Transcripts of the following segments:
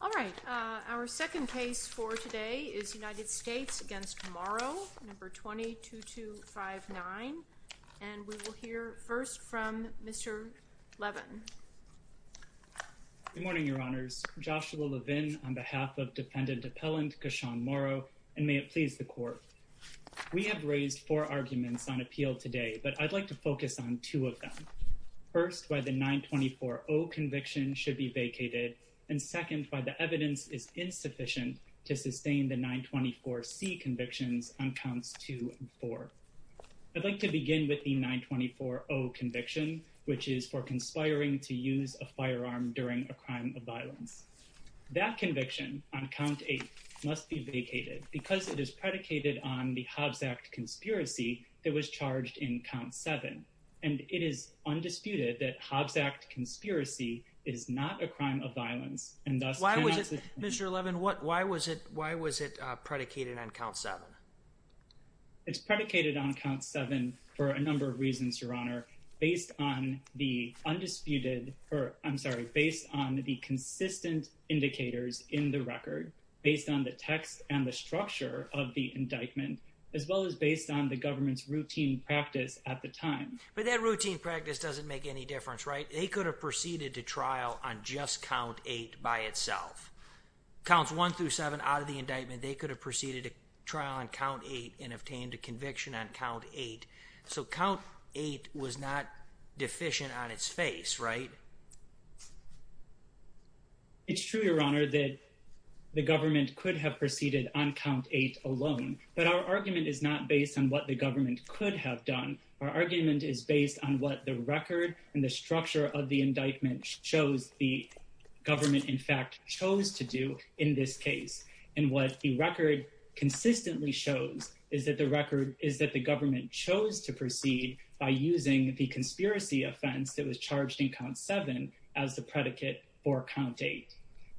All right. Our second case for today is United States v. Morrow, No. 22259. And we will hear first from Mr. Levin. Good morning, Your Honors. Joshua Levin on behalf of Defendant Appellant Kashawn Morrow, and may it please the Court. We have raised four arguments on appeal today, but I'd like to focus on two of them. First, why the 924-0 conviction should be vacated, and second, why the evidence is insufficient to sustain the 924-C convictions on Counts 2 and 4. I'd like to begin with the 924-0 conviction, which is for conspiring to use a firearm during a crime of violence. That conviction on Count 8 must be vacated because it is predicated on the Hobbs Act conspiracy that was charged in Count 7. And it is undisputed that Hobbs Act conspiracy is not a crime of violence, and thus cannot... Why was it, Mr. Levin, why was it predicated on Count 7? It's predicated on Count 7 for a number of reasons, Your Honor, based on the undisputed, or I'm sorry, based on the consistent indicators in the record, based on the text and the structure of the indictment, as well as based on the government's routine practice at the time. But that routine practice doesn't make any difference, right? They could have proceeded to trial on just Count 8 by itself. Counts 1 through 7 out of the indictment, they could have proceeded to trial on Count 8 and obtained a conviction on Count 8. So Count 8 was not deficient on its face, right? It's true, Your Honor, that the government could have proceeded on Count 8 alone, but our argument is not based on what the government could have done. Our argument is based on what the record and the structure of the indictment shows the government, in fact, chose to do in this case. And what the record consistently shows is that the record is that the government chose to proceed by using the conspiracy offense that was charged in Count 7 as the predicate for Count 8.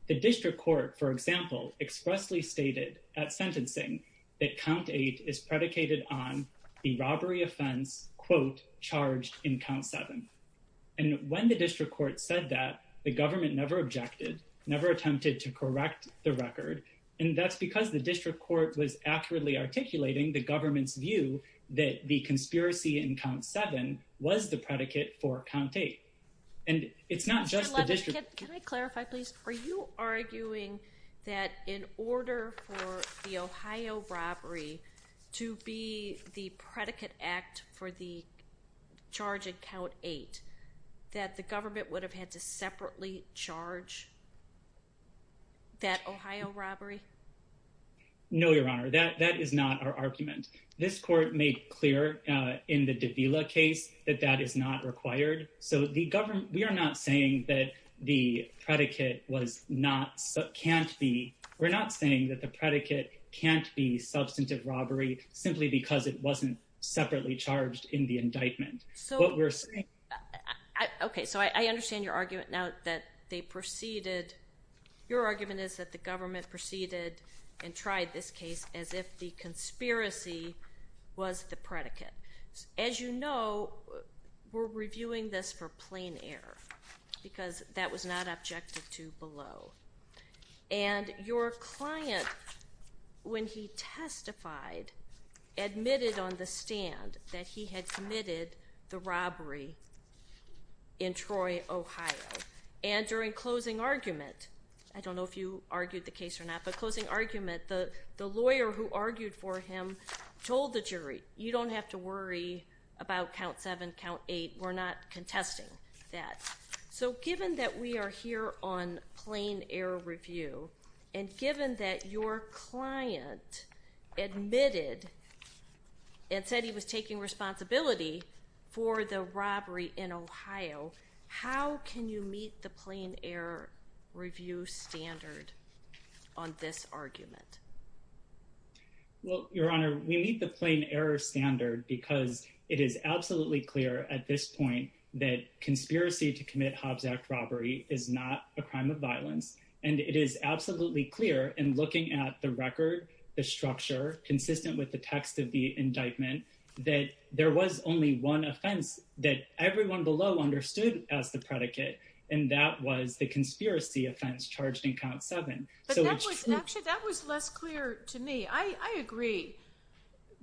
The district court, for example, expressly stated at sentencing that Count 8 is predicated on the robbery offense, quote, charged in Count 7. And when the district court said that, the government never objected, never attempted to correct the record. And that's because the district court was accurately articulating the government's view that the conspiracy in Count 7 was the predicate for Count 8. And it's not just the robbery to be the predicate act for the charge in Count 8 that the government would have had to separately charge that Ohio robbery? No, Your Honor, that is not our argument. This court made clear in the Davila case that that is not required. So the government, we are not saying that the predicate was not, can't be, we're not saying that the predicate can't be substantive robbery simply because it wasn't separately charged in the indictment. What we're saying... Okay, so I understand your argument now that they proceeded, your argument is that the government proceeded and tried this case as if the conspiracy was the predicate. As you know, we're reviewing this for plain error because that was not objected to below. And your client, when he testified, admitted on the stand that he had committed the robbery in Troy, Ohio. And during closing argument, I don't know if you argued the case or not, but closing argument, the lawyer who argued for him told the jury, you don't have to worry about Count 7, Count 8, we're not contesting that. So given that we are here on plain error review, and given that your client admitted and said he was taking responsibility for the robbery in Ohio, how can you meet the Your Honor, we meet the plain error standard because it is absolutely clear at this point that conspiracy to commit Hobbs Act robbery is not a crime of violence. And it is absolutely clear in looking at the record, the structure, consistent with the text of the indictment, that there was only one offense that everyone below understood as the predicate. And that was the conspiracy offense charged in Count 7. Actually, that was less clear to me. I agree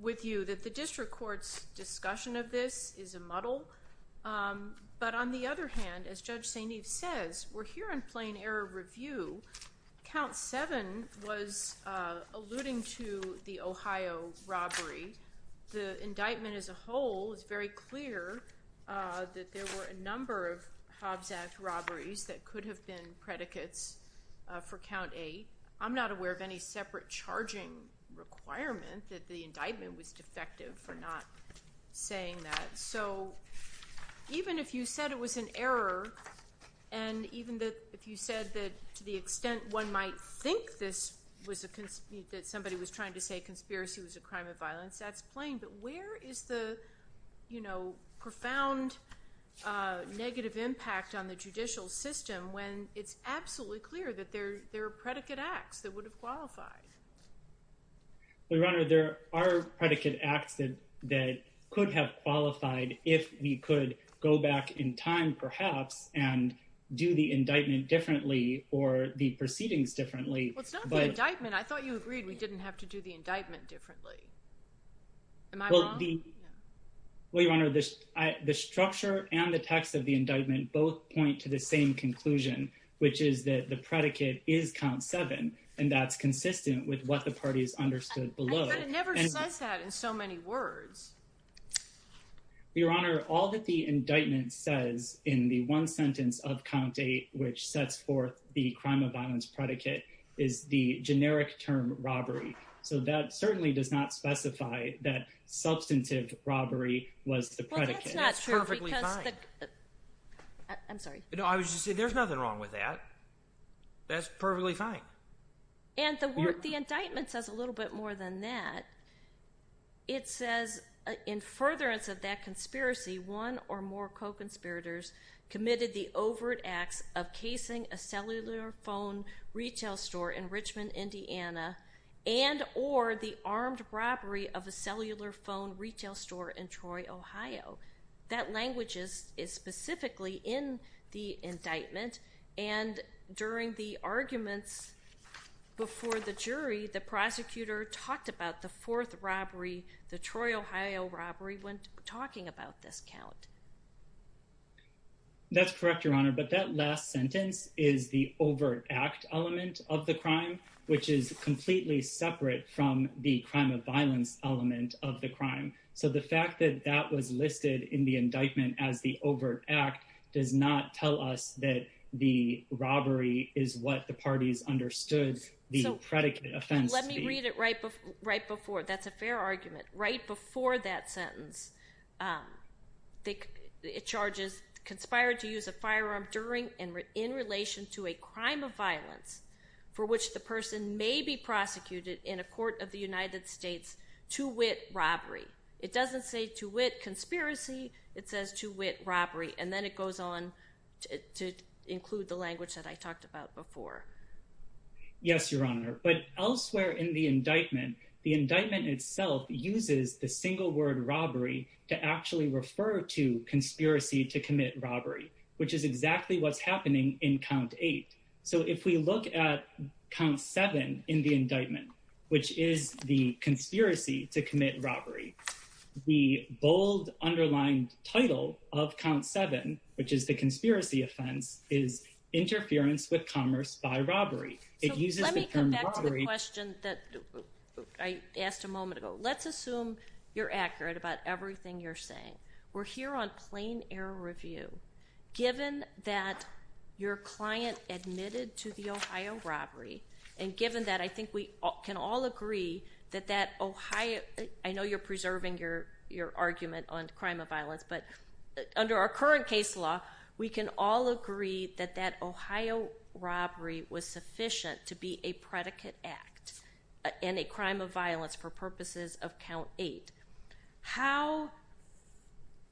with you that the district court's discussion of this is a muddle. But on the other hand, as Judge St. Eve says, we're here on plain error review. Count 7 was alluding to the Ohio robbery. The indictment as a whole is very clear that there were a number of Hobbs Act robberies that could have been predicates for Count 8. I'm not aware of any separate charging requirement that the indictment was defective for not saying that. So even if you said it was an error, and even if you said that to the extent one might think that somebody was trying to say conspiracy was a crime of violence, that's plain. But where is the profound negative impact on the judicial system when it's absolutely clear that there are predicate acts that would have qualified? Your Honor, there are predicate acts that could have qualified if we could go back in time, perhaps, and do the indictment differently or the proceedings differently. Well, it's not the indictment. I thought you agreed we didn't have to do the indictment differently. Am I wrong? Well, Your Honor, the structure and the text of the indictment both point to the same conclusion, which is that the predicate is Count 7, and that's consistent with what the party has understood below. But it never says that in so many words. Your Honor, all that the indictment says in the one sentence of Count 8 which sets forth the crime of violence predicate is the generic term robbery. So that certainly does not specify that substantive robbery was the predicate. Well, that's not true. I'm sorry. No, I was just saying there's nothing wrong with that. That's perfectly fine. And the indictment says a little bit more than that. It says, in furtherance of that conspiracy, one or more co-conspirators committed the overt acts of casing a cellular phone retail store in Richmond, Indiana, and or the armed robbery of a cellular phone retail store in Troy, Ohio. That language is specifically in the indictment. And during the arguments before the jury, the prosecutor talked about the fourth robbery, the Troy, Ohio robbery, when talking about this count. That's correct, Your Honor. But that last sentence is the overt act element of the crime, which is completely separate from the crime of violence element of the crime. So the fact that that was listed in the indictment as the overt act does not tell us that the robbery is what the parties understood the predicate offense to be. Let me read it right before. That's a fair argument. Right before that sentence, it charges conspired to use a firearm during and in relation to a crime of violence for which the person may be prosecuted in a court of the United States to wit robbery. It doesn't say to wit conspiracy. It says to wit robbery. And then it goes on to include the language that I talked about before. Yes, Your Honor. But elsewhere in the indictment, the indictment itself uses the single word robbery to actually refer to conspiracy to commit robbery, which is exactly what's happening in count eight. So if we look at count seven in the indictment, which is the conspiracy to commit robbery, the bold underlined title of count seven, which is the conspiracy offense, is interference with commerce by robbery. It uses the term robbery question that I asked a moment ago. Let's assume you're accurate about everything you're saying. We're here on plain air review. Given that your client admitted to the Ohio robbery, and given that I think we can all agree that that Ohio, I know you're preserving your argument on crime of violence, but under our current case law, we can all agree that that Ohio robbery was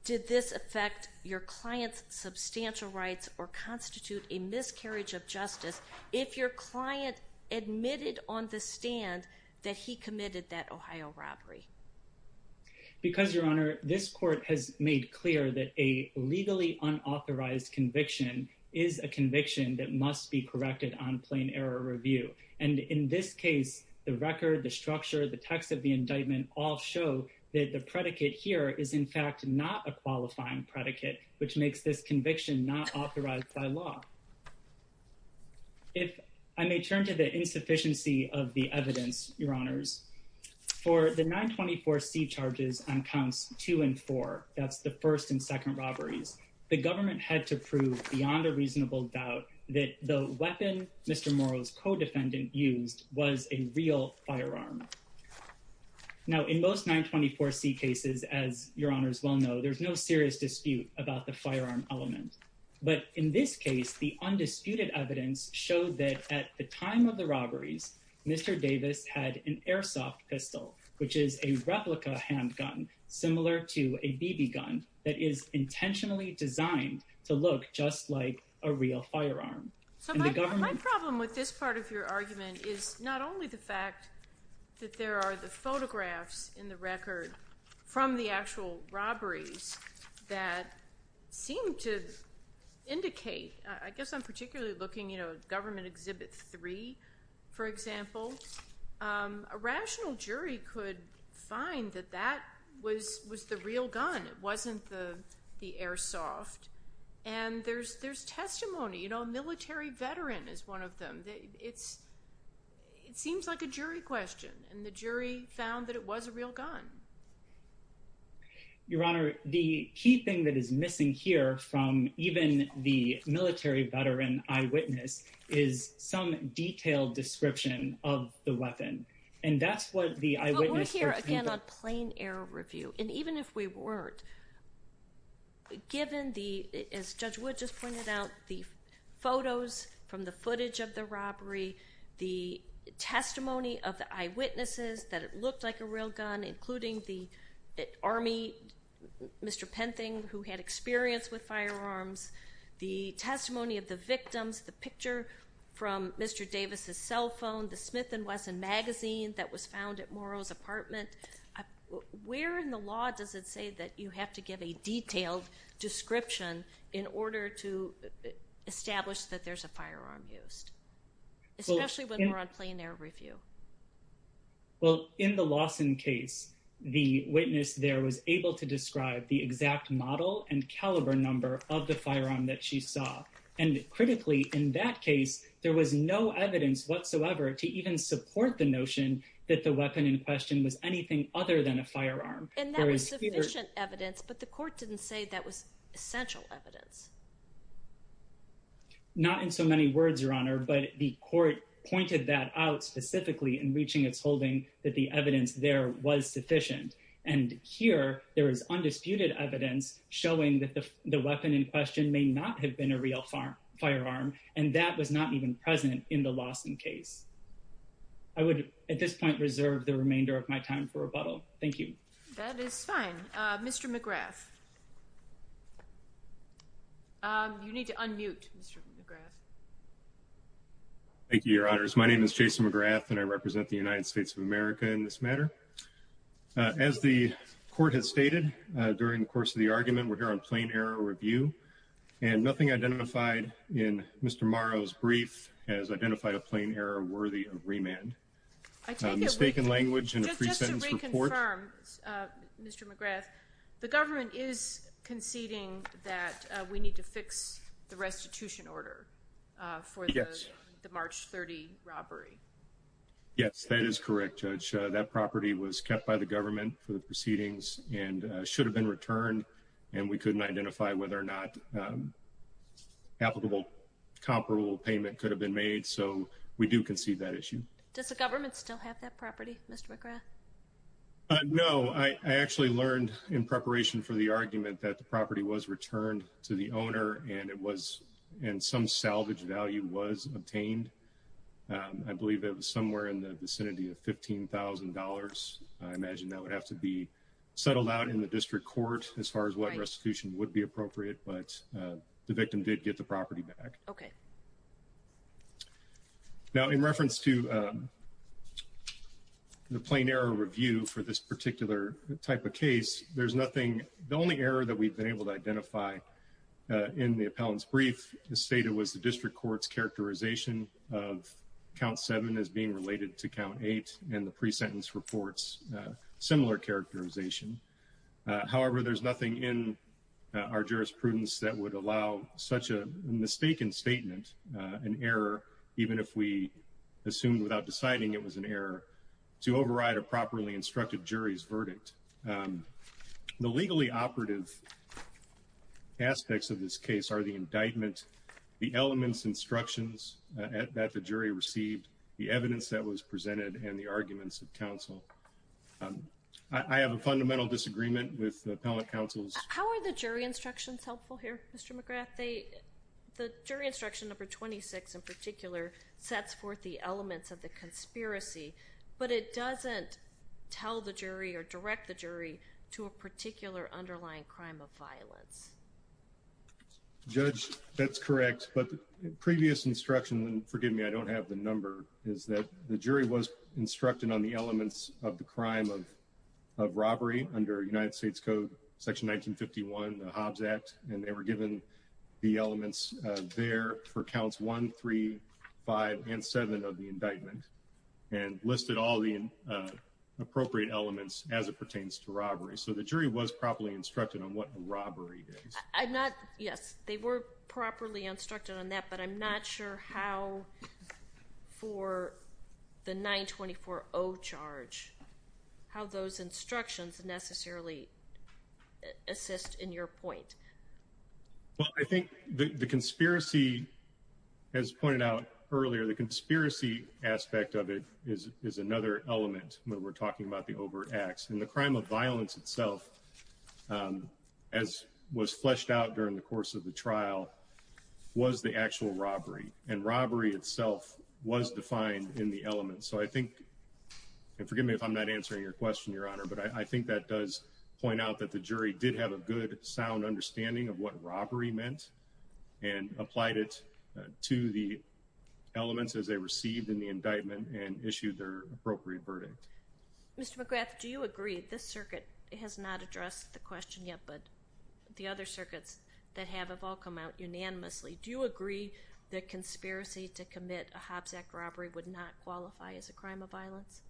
did this affect your client's substantial rights or constitute a miscarriage of justice if your client admitted on the stand that he committed that Ohio robbery? Because Your Honor, this court has made clear that a legally unauthorized conviction is a conviction that must be corrected on plain error review. And in this case, the record, the structure, the text of the indictment all show that the predicate here is in fact not a qualifying predicate, which makes this conviction not authorized by law. If I may turn to the insufficiency of the evidence, Your Honors, for the 924C charges on counts two and four, that's the first and second robberies, the government had to prove beyond a reasonable doubt that the weapon Mr. Morrow's firearm. Now, in most 924C cases, as Your Honors well know, there's no serious dispute about the firearm element. But in this case, the undisputed evidence showed that at the time of the robberies, Mr. Davis had an airsoft pistol, which is a replica handgun, similar to a BB gun, that is intentionally designed to look just like a real firearm. So my problem with this part of your argument is not only the fact that there are the photographs in the record from the actual robberies that seem to indicate, I guess I'm particularly looking at Government Exhibit 3, for example. A rational jury could find that that was the real gun, it wasn't the airsoft. And there's testimony, you know, a military veteran is one of them. It seems like a jury question, and the jury found that it was a real gun. Your Honor, the key thing that is missing here from even the military veteran eyewitness is some detailed description of the weapon. And that's what the eyewitness... Again, on plain air review, and even if we weren't, given the, as Judge Wood just pointed out, the photos from the footage of the robbery, the testimony of the eyewitnesses that it looked like a real gun, including the Army, Mr. Penthing, who had experience with firearms, the testimony of the victims, the picture from Mr. Davis's cell phone, the Smith & Wesson magazine that was found at Morrow's apartment. Where in the law does it say that you have to give a detailed description in order to establish that there's a firearm used, especially when we're on plain air review? Well, in the Lawson case, the witness there was able to describe the exact model and caliber number of the firearm that she saw. And critically, in that case, there was no evidence whatsoever to support the notion that the weapon in question was anything other than a firearm. And that was sufficient evidence, but the court didn't say that was essential evidence. Not in so many words, Your Honor, but the court pointed that out specifically in reaching its holding, that the evidence there was sufficient. And here, there is undisputed evidence showing that the weapon in question may not have been a real firearm, and that was not even present in the Lawson case. I would at this point reserve the remainder of my time for rebuttal. Thank you. That is fine. Mr. McGrath. You need to unmute, Mr. McGrath. Thank you, Your Honors. My name is Jason McGrath, and I represent the United States of America in this matter. As the court has stated during the course of the argument, we're here on plain air review, and nothing identified in Mr. Morrow's brief has identified a plain error worthy of remand. Mistaken language in a pre-sentence report. Just to reconfirm, Mr. McGrath, the government is conceding that we need to fix the restitution order for the March 30 robbery. Yes, that is correct, Judge. That property was kept by the government for the proceedings and should have returned, and we couldn't identify whether or not an applicable comparable payment could have been made, so we do concede that issue. Does the government still have that property, Mr. McGrath? No. I actually learned in preparation for the argument that the property was returned to the owner and some salvage value was obtained. I believe it was somewhere in the vicinity of as far as what restitution would be appropriate, but the victim did get the property back. Okay. Now, in reference to the plain error review for this particular type of case, there's nothing. The only error that we've been able to identify in the appellant's brief is stated was the district court's characterization of count seven as being related to count eight and the pre-sentence report's similar characterization. However, there's nothing in our jurisprudence that would allow such a mistaken statement, an error, even if we assumed without deciding it was an error, to override a properly instructed jury's verdict. The legally operative aspects of this case are the indictment, the elements instructions that the jury received, the evidence that was presented, and the arguments of counsel. I have a fundamental disagreement with the appellant counsel's... How are the jury instructions helpful here, Mr. McGrath? The jury instruction number 26 in particular sets forth the elements of the conspiracy, but it doesn't tell the jury or direct the jury to a particular underlying crime of violence. Judge, that's correct, but previous instruction, and forgive me, I don't have the number, is that the jury was instructed on the elements of the crime of robbery under United States Code section 1951, the Hobbs Act, and they were given the elements there for counts one, three, five, and seven of the indictment, and listed all the appropriate elements as it pertains to robbery. So the jury was properly instructed on that, but I'm not sure how for the 924-0 charge, how those instructions necessarily assist in your point. Well, I think the conspiracy, as pointed out earlier, the conspiracy aspect of it is another element when we're talking about the overt acts, and the crime of violence itself, as was fleshed out during the course of the trial, was the actual robbery, and robbery itself was defined in the elements. So I think, and forgive me if I'm not answering your question, Your Honor, but I think that does point out that the jury did have a good, sound understanding of what robbery meant, and applied it to the elements as they received in the indictment, and issued their appropriate verdict. Mr. McGrath, do you agree, this circuit has not addressed the question yet, but the other circuits that have have all come out unanimously, do you agree that conspiracy to commit a Hobbs Act robbery would not qualify as a crime of violence?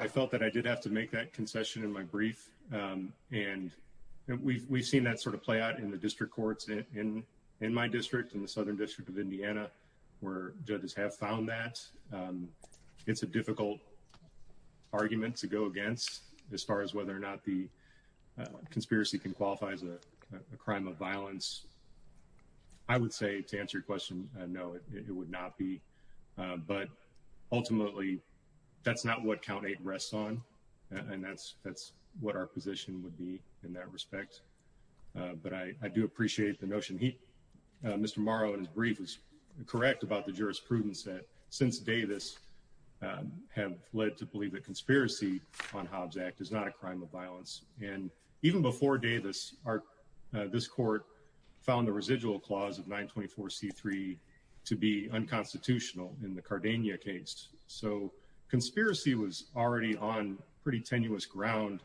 I felt that I did have to make that concession in my brief, and we've seen that sort of play out in the district courts in my district, in the Southern District of Indiana, where judges have found that. It's a difficult argument to go against, as far as whether or not the conspiracy can qualify as a crime of violence. I would say, to answer your question, no, it would not be, but ultimately, that's not what count eight rests on, and that's what our position would be in that respect, but I do appreciate the notion. Mr. Morrow, in his brief, was correct about the jurisprudence that, since Davis, have led to believe that conspiracy on Hobbs Act is not a crime of violence, and even before Davis, this court found the residual clause of 924c3 to be unconstitutional in the Cardania case, so conspiracy was already on pretty tenuous ground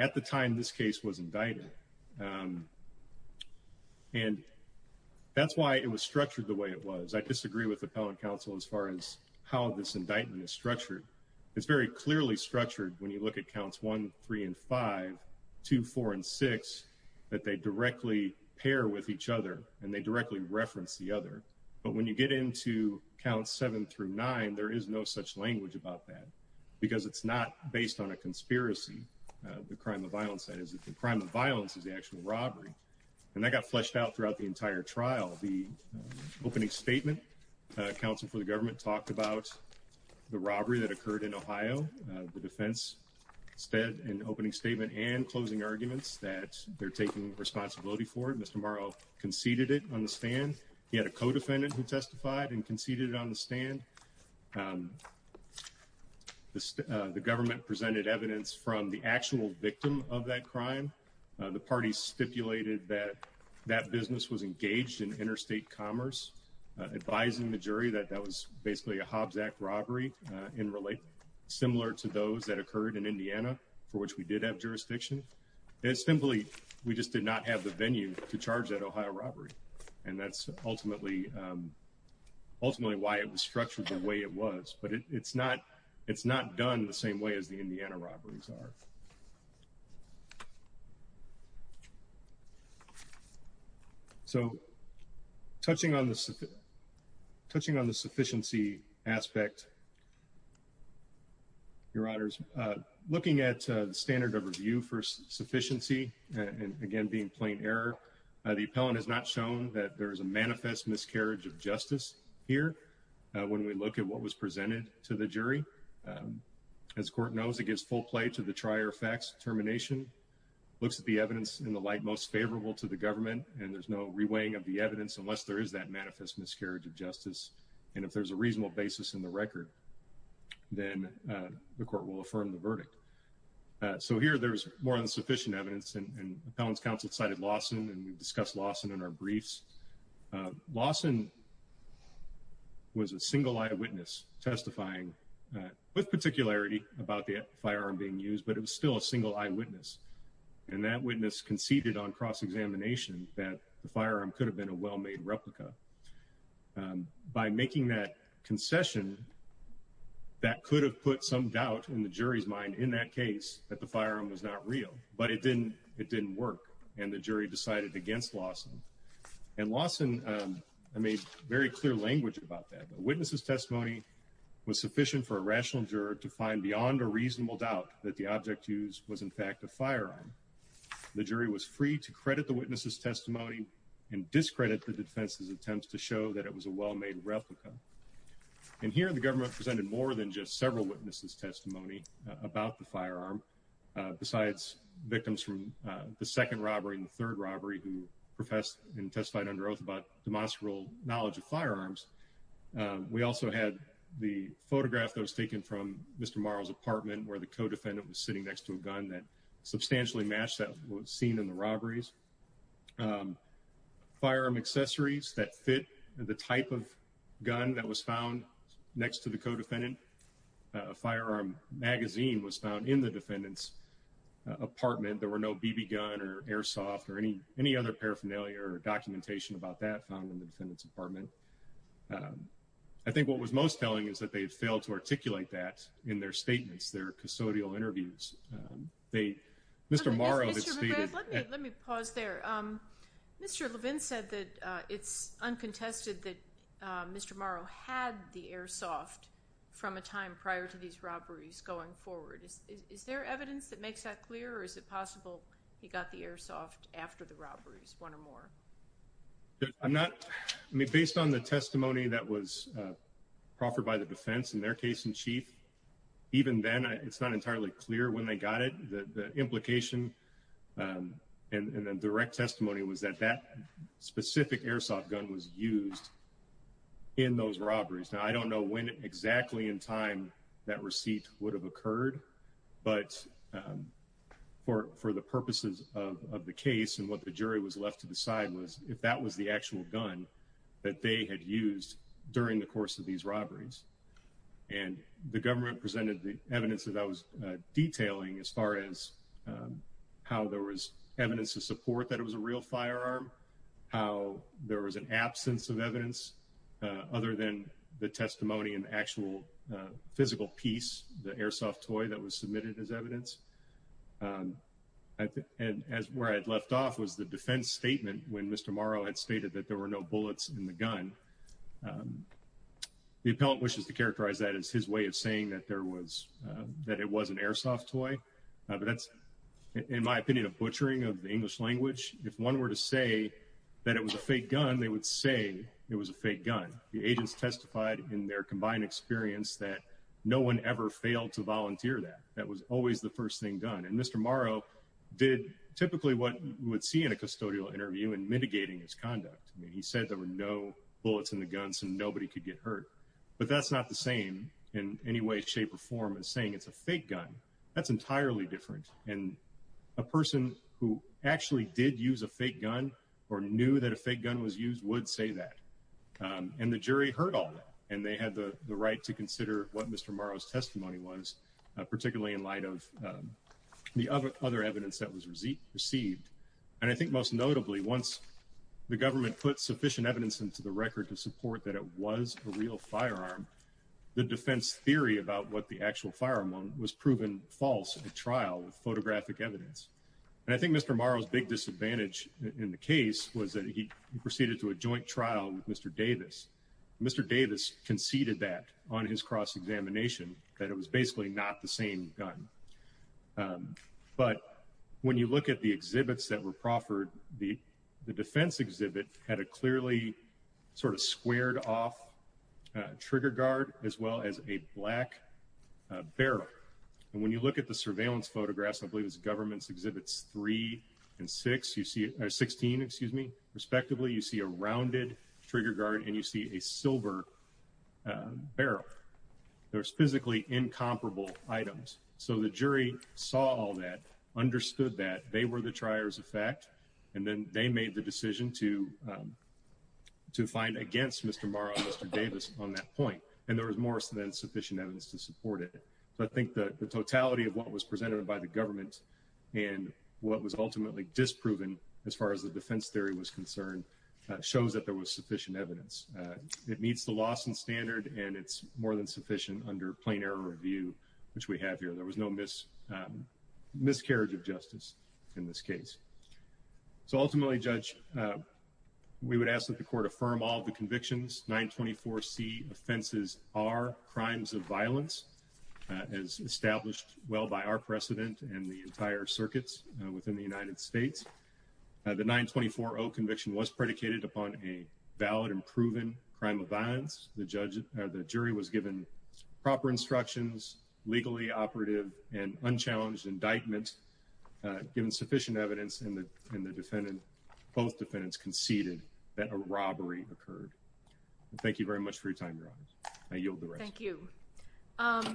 at the time this case was indicted, and that's why it was structured the way it was. I disagree with Appellant Counsel, as far as how this indictment is structured. It's very clearly structured, when you look at counts one, three, and five, two, four, and six, that they directly pair with each other, and they directly reference the other, but when you get into counts seven through nine, there is no such language about that, because it's not based on a conspiracy. The crime of violence is the actual robbery, and that got fleshed out throughout the entire trial. The opening statement, counsel for the government talked about the robbery that occurred in Ohio. The defense said in the opening statement and closing arguments that they're taking responsibility for it. Mr. Morrow conceded it on the stand. He had a co-defendant who testified and conceded it on the stand. The government presented evidence from the actual victim of that crime. The parties stipulated that that business was engaged in interstate commerce, advising the jury that that was basically a Hobbs Act robbery, similar to those that occurred in Indiana, for which we did have jurisdiction. Simply, we just did not have the venue to charge that Ohio robbery, and that's ultimately why it was structured the way it was, but it's not done the same way as the Indiana robberies are. So, touching on the sufficiency aspect, your honors, looking at the standard of review for sufficiency, and again, being plain error, the appellant has not shown that there is a manifest miscarriage of justice here. When we look at what was presented to the jury, as court knows, it gives full play to the trier facts termination, looks at the evidence in the light most favorable to the government, and there's no reweighing of the evidence unless there is that manifest miscarriage of justice, and if there's a reasonable basis in the record, then the court will affirm the verdict. So here, there's more than sufficient evidence, and appellant's counsel cited Lawson, and we discussed Lawson in our briefs. Lawson was a single eyewitness testifying, with particularity about the firearm being used, but it was still a single eyewitness, and that witness conceded on cross-examination that the firearm could have been a well-made replica. By making that concession, that could have put some doubt in the jury's mind in that that the firearm was not real, but it didn't work, and the jury decided against Lawson, and Lawson made very clear language about that. The witness's testimony was sufficient for a rational juror to find beyond a reasonable doubt that the object used was, in fact, a firearm. The jury was free to credit the witness's testimony and discredit the defense's attempts to show that it was a well-made replica, and here, the government presented more than just several witnesses' testimony about the firearm, besides victims from the second robbery and the third robbery who professed and testified under oath about demonstrable knowledge of firearms. We also had the photograph that was taken from Mr. Morrow's apartment, where the co-defendant was sitting next to a gun that substantially matched what was seen in the robberies. Firearm accessories that fit the type of gun that was found next to the co-defendant firearm magazine was found in the defendant's apartment. There were no BB gun or airsoft or any other paraphernalia or documentation about that found in the defendant's apartment. I think what was most telling is that they had failed to articulate that in their statements, their custodial interviews. Mr. Morrow had stated... Let me pause there. Mr. Levin said that it's uncontested that Mr. Morrow had the airsoft from a time prior to these robberies going forward. Is there evidence that makes that clear, or is it possible he got the airsoft after the robberies, one or more? I'm not... Based on the testimony that was offered by the defense in their case in chief, even then, it's not entirely clear when they got it. The implication and the direct testimony was that that specific airsoft gun was used in those robberies. Now, I don't know when exactly in time that receipt would have occurred, but for the purposes of the case and what the jury was left to decide was if that was the actual gun that they had used during the course of these robberies. The government presented the evidence that I was detailing as far as how there was evidence to support that it was a real firearm, how there was an absence of evidence other than the testimony and actual physical piece, the airsoft toy that was submitted as evidence. And where I'd left off was the defense statement when Mr. Morrow had stated that there were no bullets in the gun. The appellant wishes to characterize that as his way of saying that it was an airsoft toy, but that's, in my opinion, a butchering of the English language. If one were to say that it was a fake gun, they would say it was a fake gun. The agents testified in their combined experience that no one ever failed to volunteer that. That was always the first thing done. And Mr. Morrow did typically what you would see in a custodial interview in mitigating his conduct. I mean, he said there were no bullets in the guns and nobody could get hurt, but that's not the same in any way, shape or form as saying it's a fake gun. That's entirely different. And a person who actually did use a fake gun or knew that a fake gun was used would say that. And the jury heard all that and they had the right to consider what Mr. Morrow's testimony was, particularly in light of the other evidence that was received. And I think most notably, once the government put sufficient evidence into the record to support that it was a real firearm, the defense theory about what the actual firearm was proven false at trial with photographic evidence. And I think Mr. Morrow's big disadvantage in the case was that he proceeded to a joint trial with Mr. Davis. Mr. Davis conceded that on his cross-examination that it was basically not the same gun. But when you look at the exhibits that were proffered, the defense exhibit had a clearly sort of squared off trigger guard as well as a black barrel. And when you look at the surveillance photographs, I believe it's government's exhibits three and six, you see 16, excuse me, respectively, you see a rounded trigger guard and you see a silver barrel. There's physically incomparable items. So the jury saw all that, understood that they were the triers of fact, and then they made the decision to find against Mr. Morrow and Mr. Davis on that point. And there was more than sufficient evidence to support it. So I think the totality of what was presented by the government and what was ultimately disproven, as far as the defense theory was concerned, shows that there was sufficient evidence. It meets the Lawson standard and it's more than sufficient under plain error review, which we have here. There was no miscarriage of justice in this case. So ultimately, Judge, we would ask that the court affirm all the convictions. 924C offenses are crimes of violence as established well by our precedent and the entire circuits within the United States. The 924O conviction was predicated upon a valid and proven crime of violence. The jury was given proper instructions, legally operative and unchallenged indictment, given sufficient evidence, and both defendants conceded that a robbery occurred. Thank you very much for your time, Your Honor. I yield the rest. Thank you.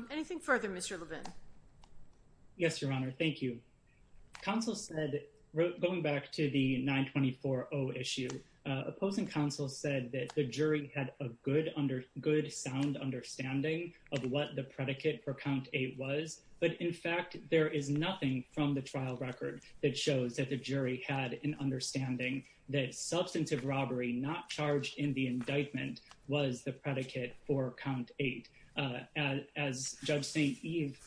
Anything further, Mr. Levin? Yes, Your Honor. Thank you. Counsel said, going back to the 924O issue, opposing counsel said that the jury had a good sound understanding of what the predicate for count eight was, but in fact, there is nothing from the trial record that shows that the jury had an understanding that substantive robbery not charged in the indictment was the predicate for count eight. As Judge St. Eve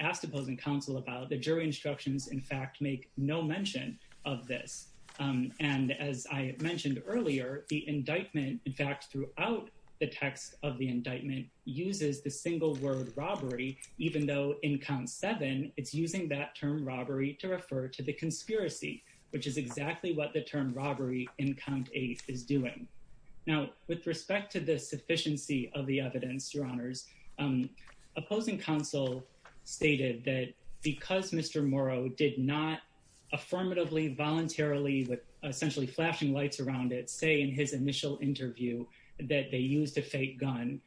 asked opposing counsel about, the jury instructions, in fact, make no mention of this. And as I mentioned earlier, the indictment, in fact, throughout the text of 924O, in count seven, it's using that term robbery to refer to the conspiracy, which is exactly what the term robbery in count eight is doing. Now, with respect to the sufficiency of the evidence, Your Honors, opposing counsel stated that because Mr. Morrow did not affirmatively, voluntarily, with essentially flashing lights around it, say in his initial interview that they used a fake gun,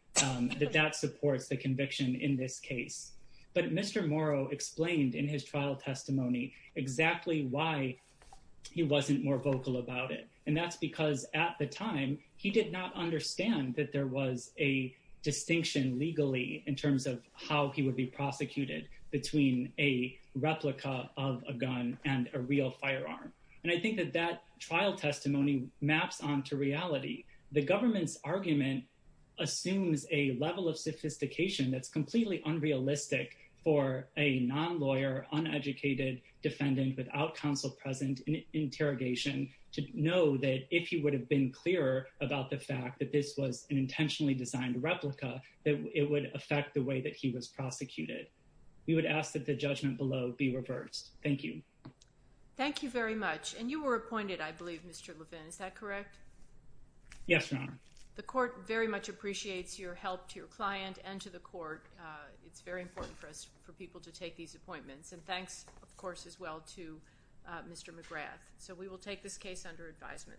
that that supports the conviction in this case. But Mr. Morrow explained in his trial testimony exactly why he wasn't more vocal about it. And that's because at the time, he did not understand that there was a distinction legally in terms of how he would be prosecuted between a replica of a gun and a real firearm. And I think that that trial testimony maps onto reality. The government's level of sophistication that's completely unrealistic for a non-lawyer, uneducated defendant without counsel present in interrogation to know that if he would have been clearer about the fact that this was an intentionally designed replica, that it would affect the way that he was prosecuted. We would ask that the judgment below be reversed. Thank you. Thank you very much. And you were appointed, I believe, Mr. Levin, is that correct? Yes, Your Honor. The court very much appreciates your help to your client and to the court. It's very important for us, for people to take these appointments. And thanks, of course, as well to Mr. McGrath. So we will take this case under advisement.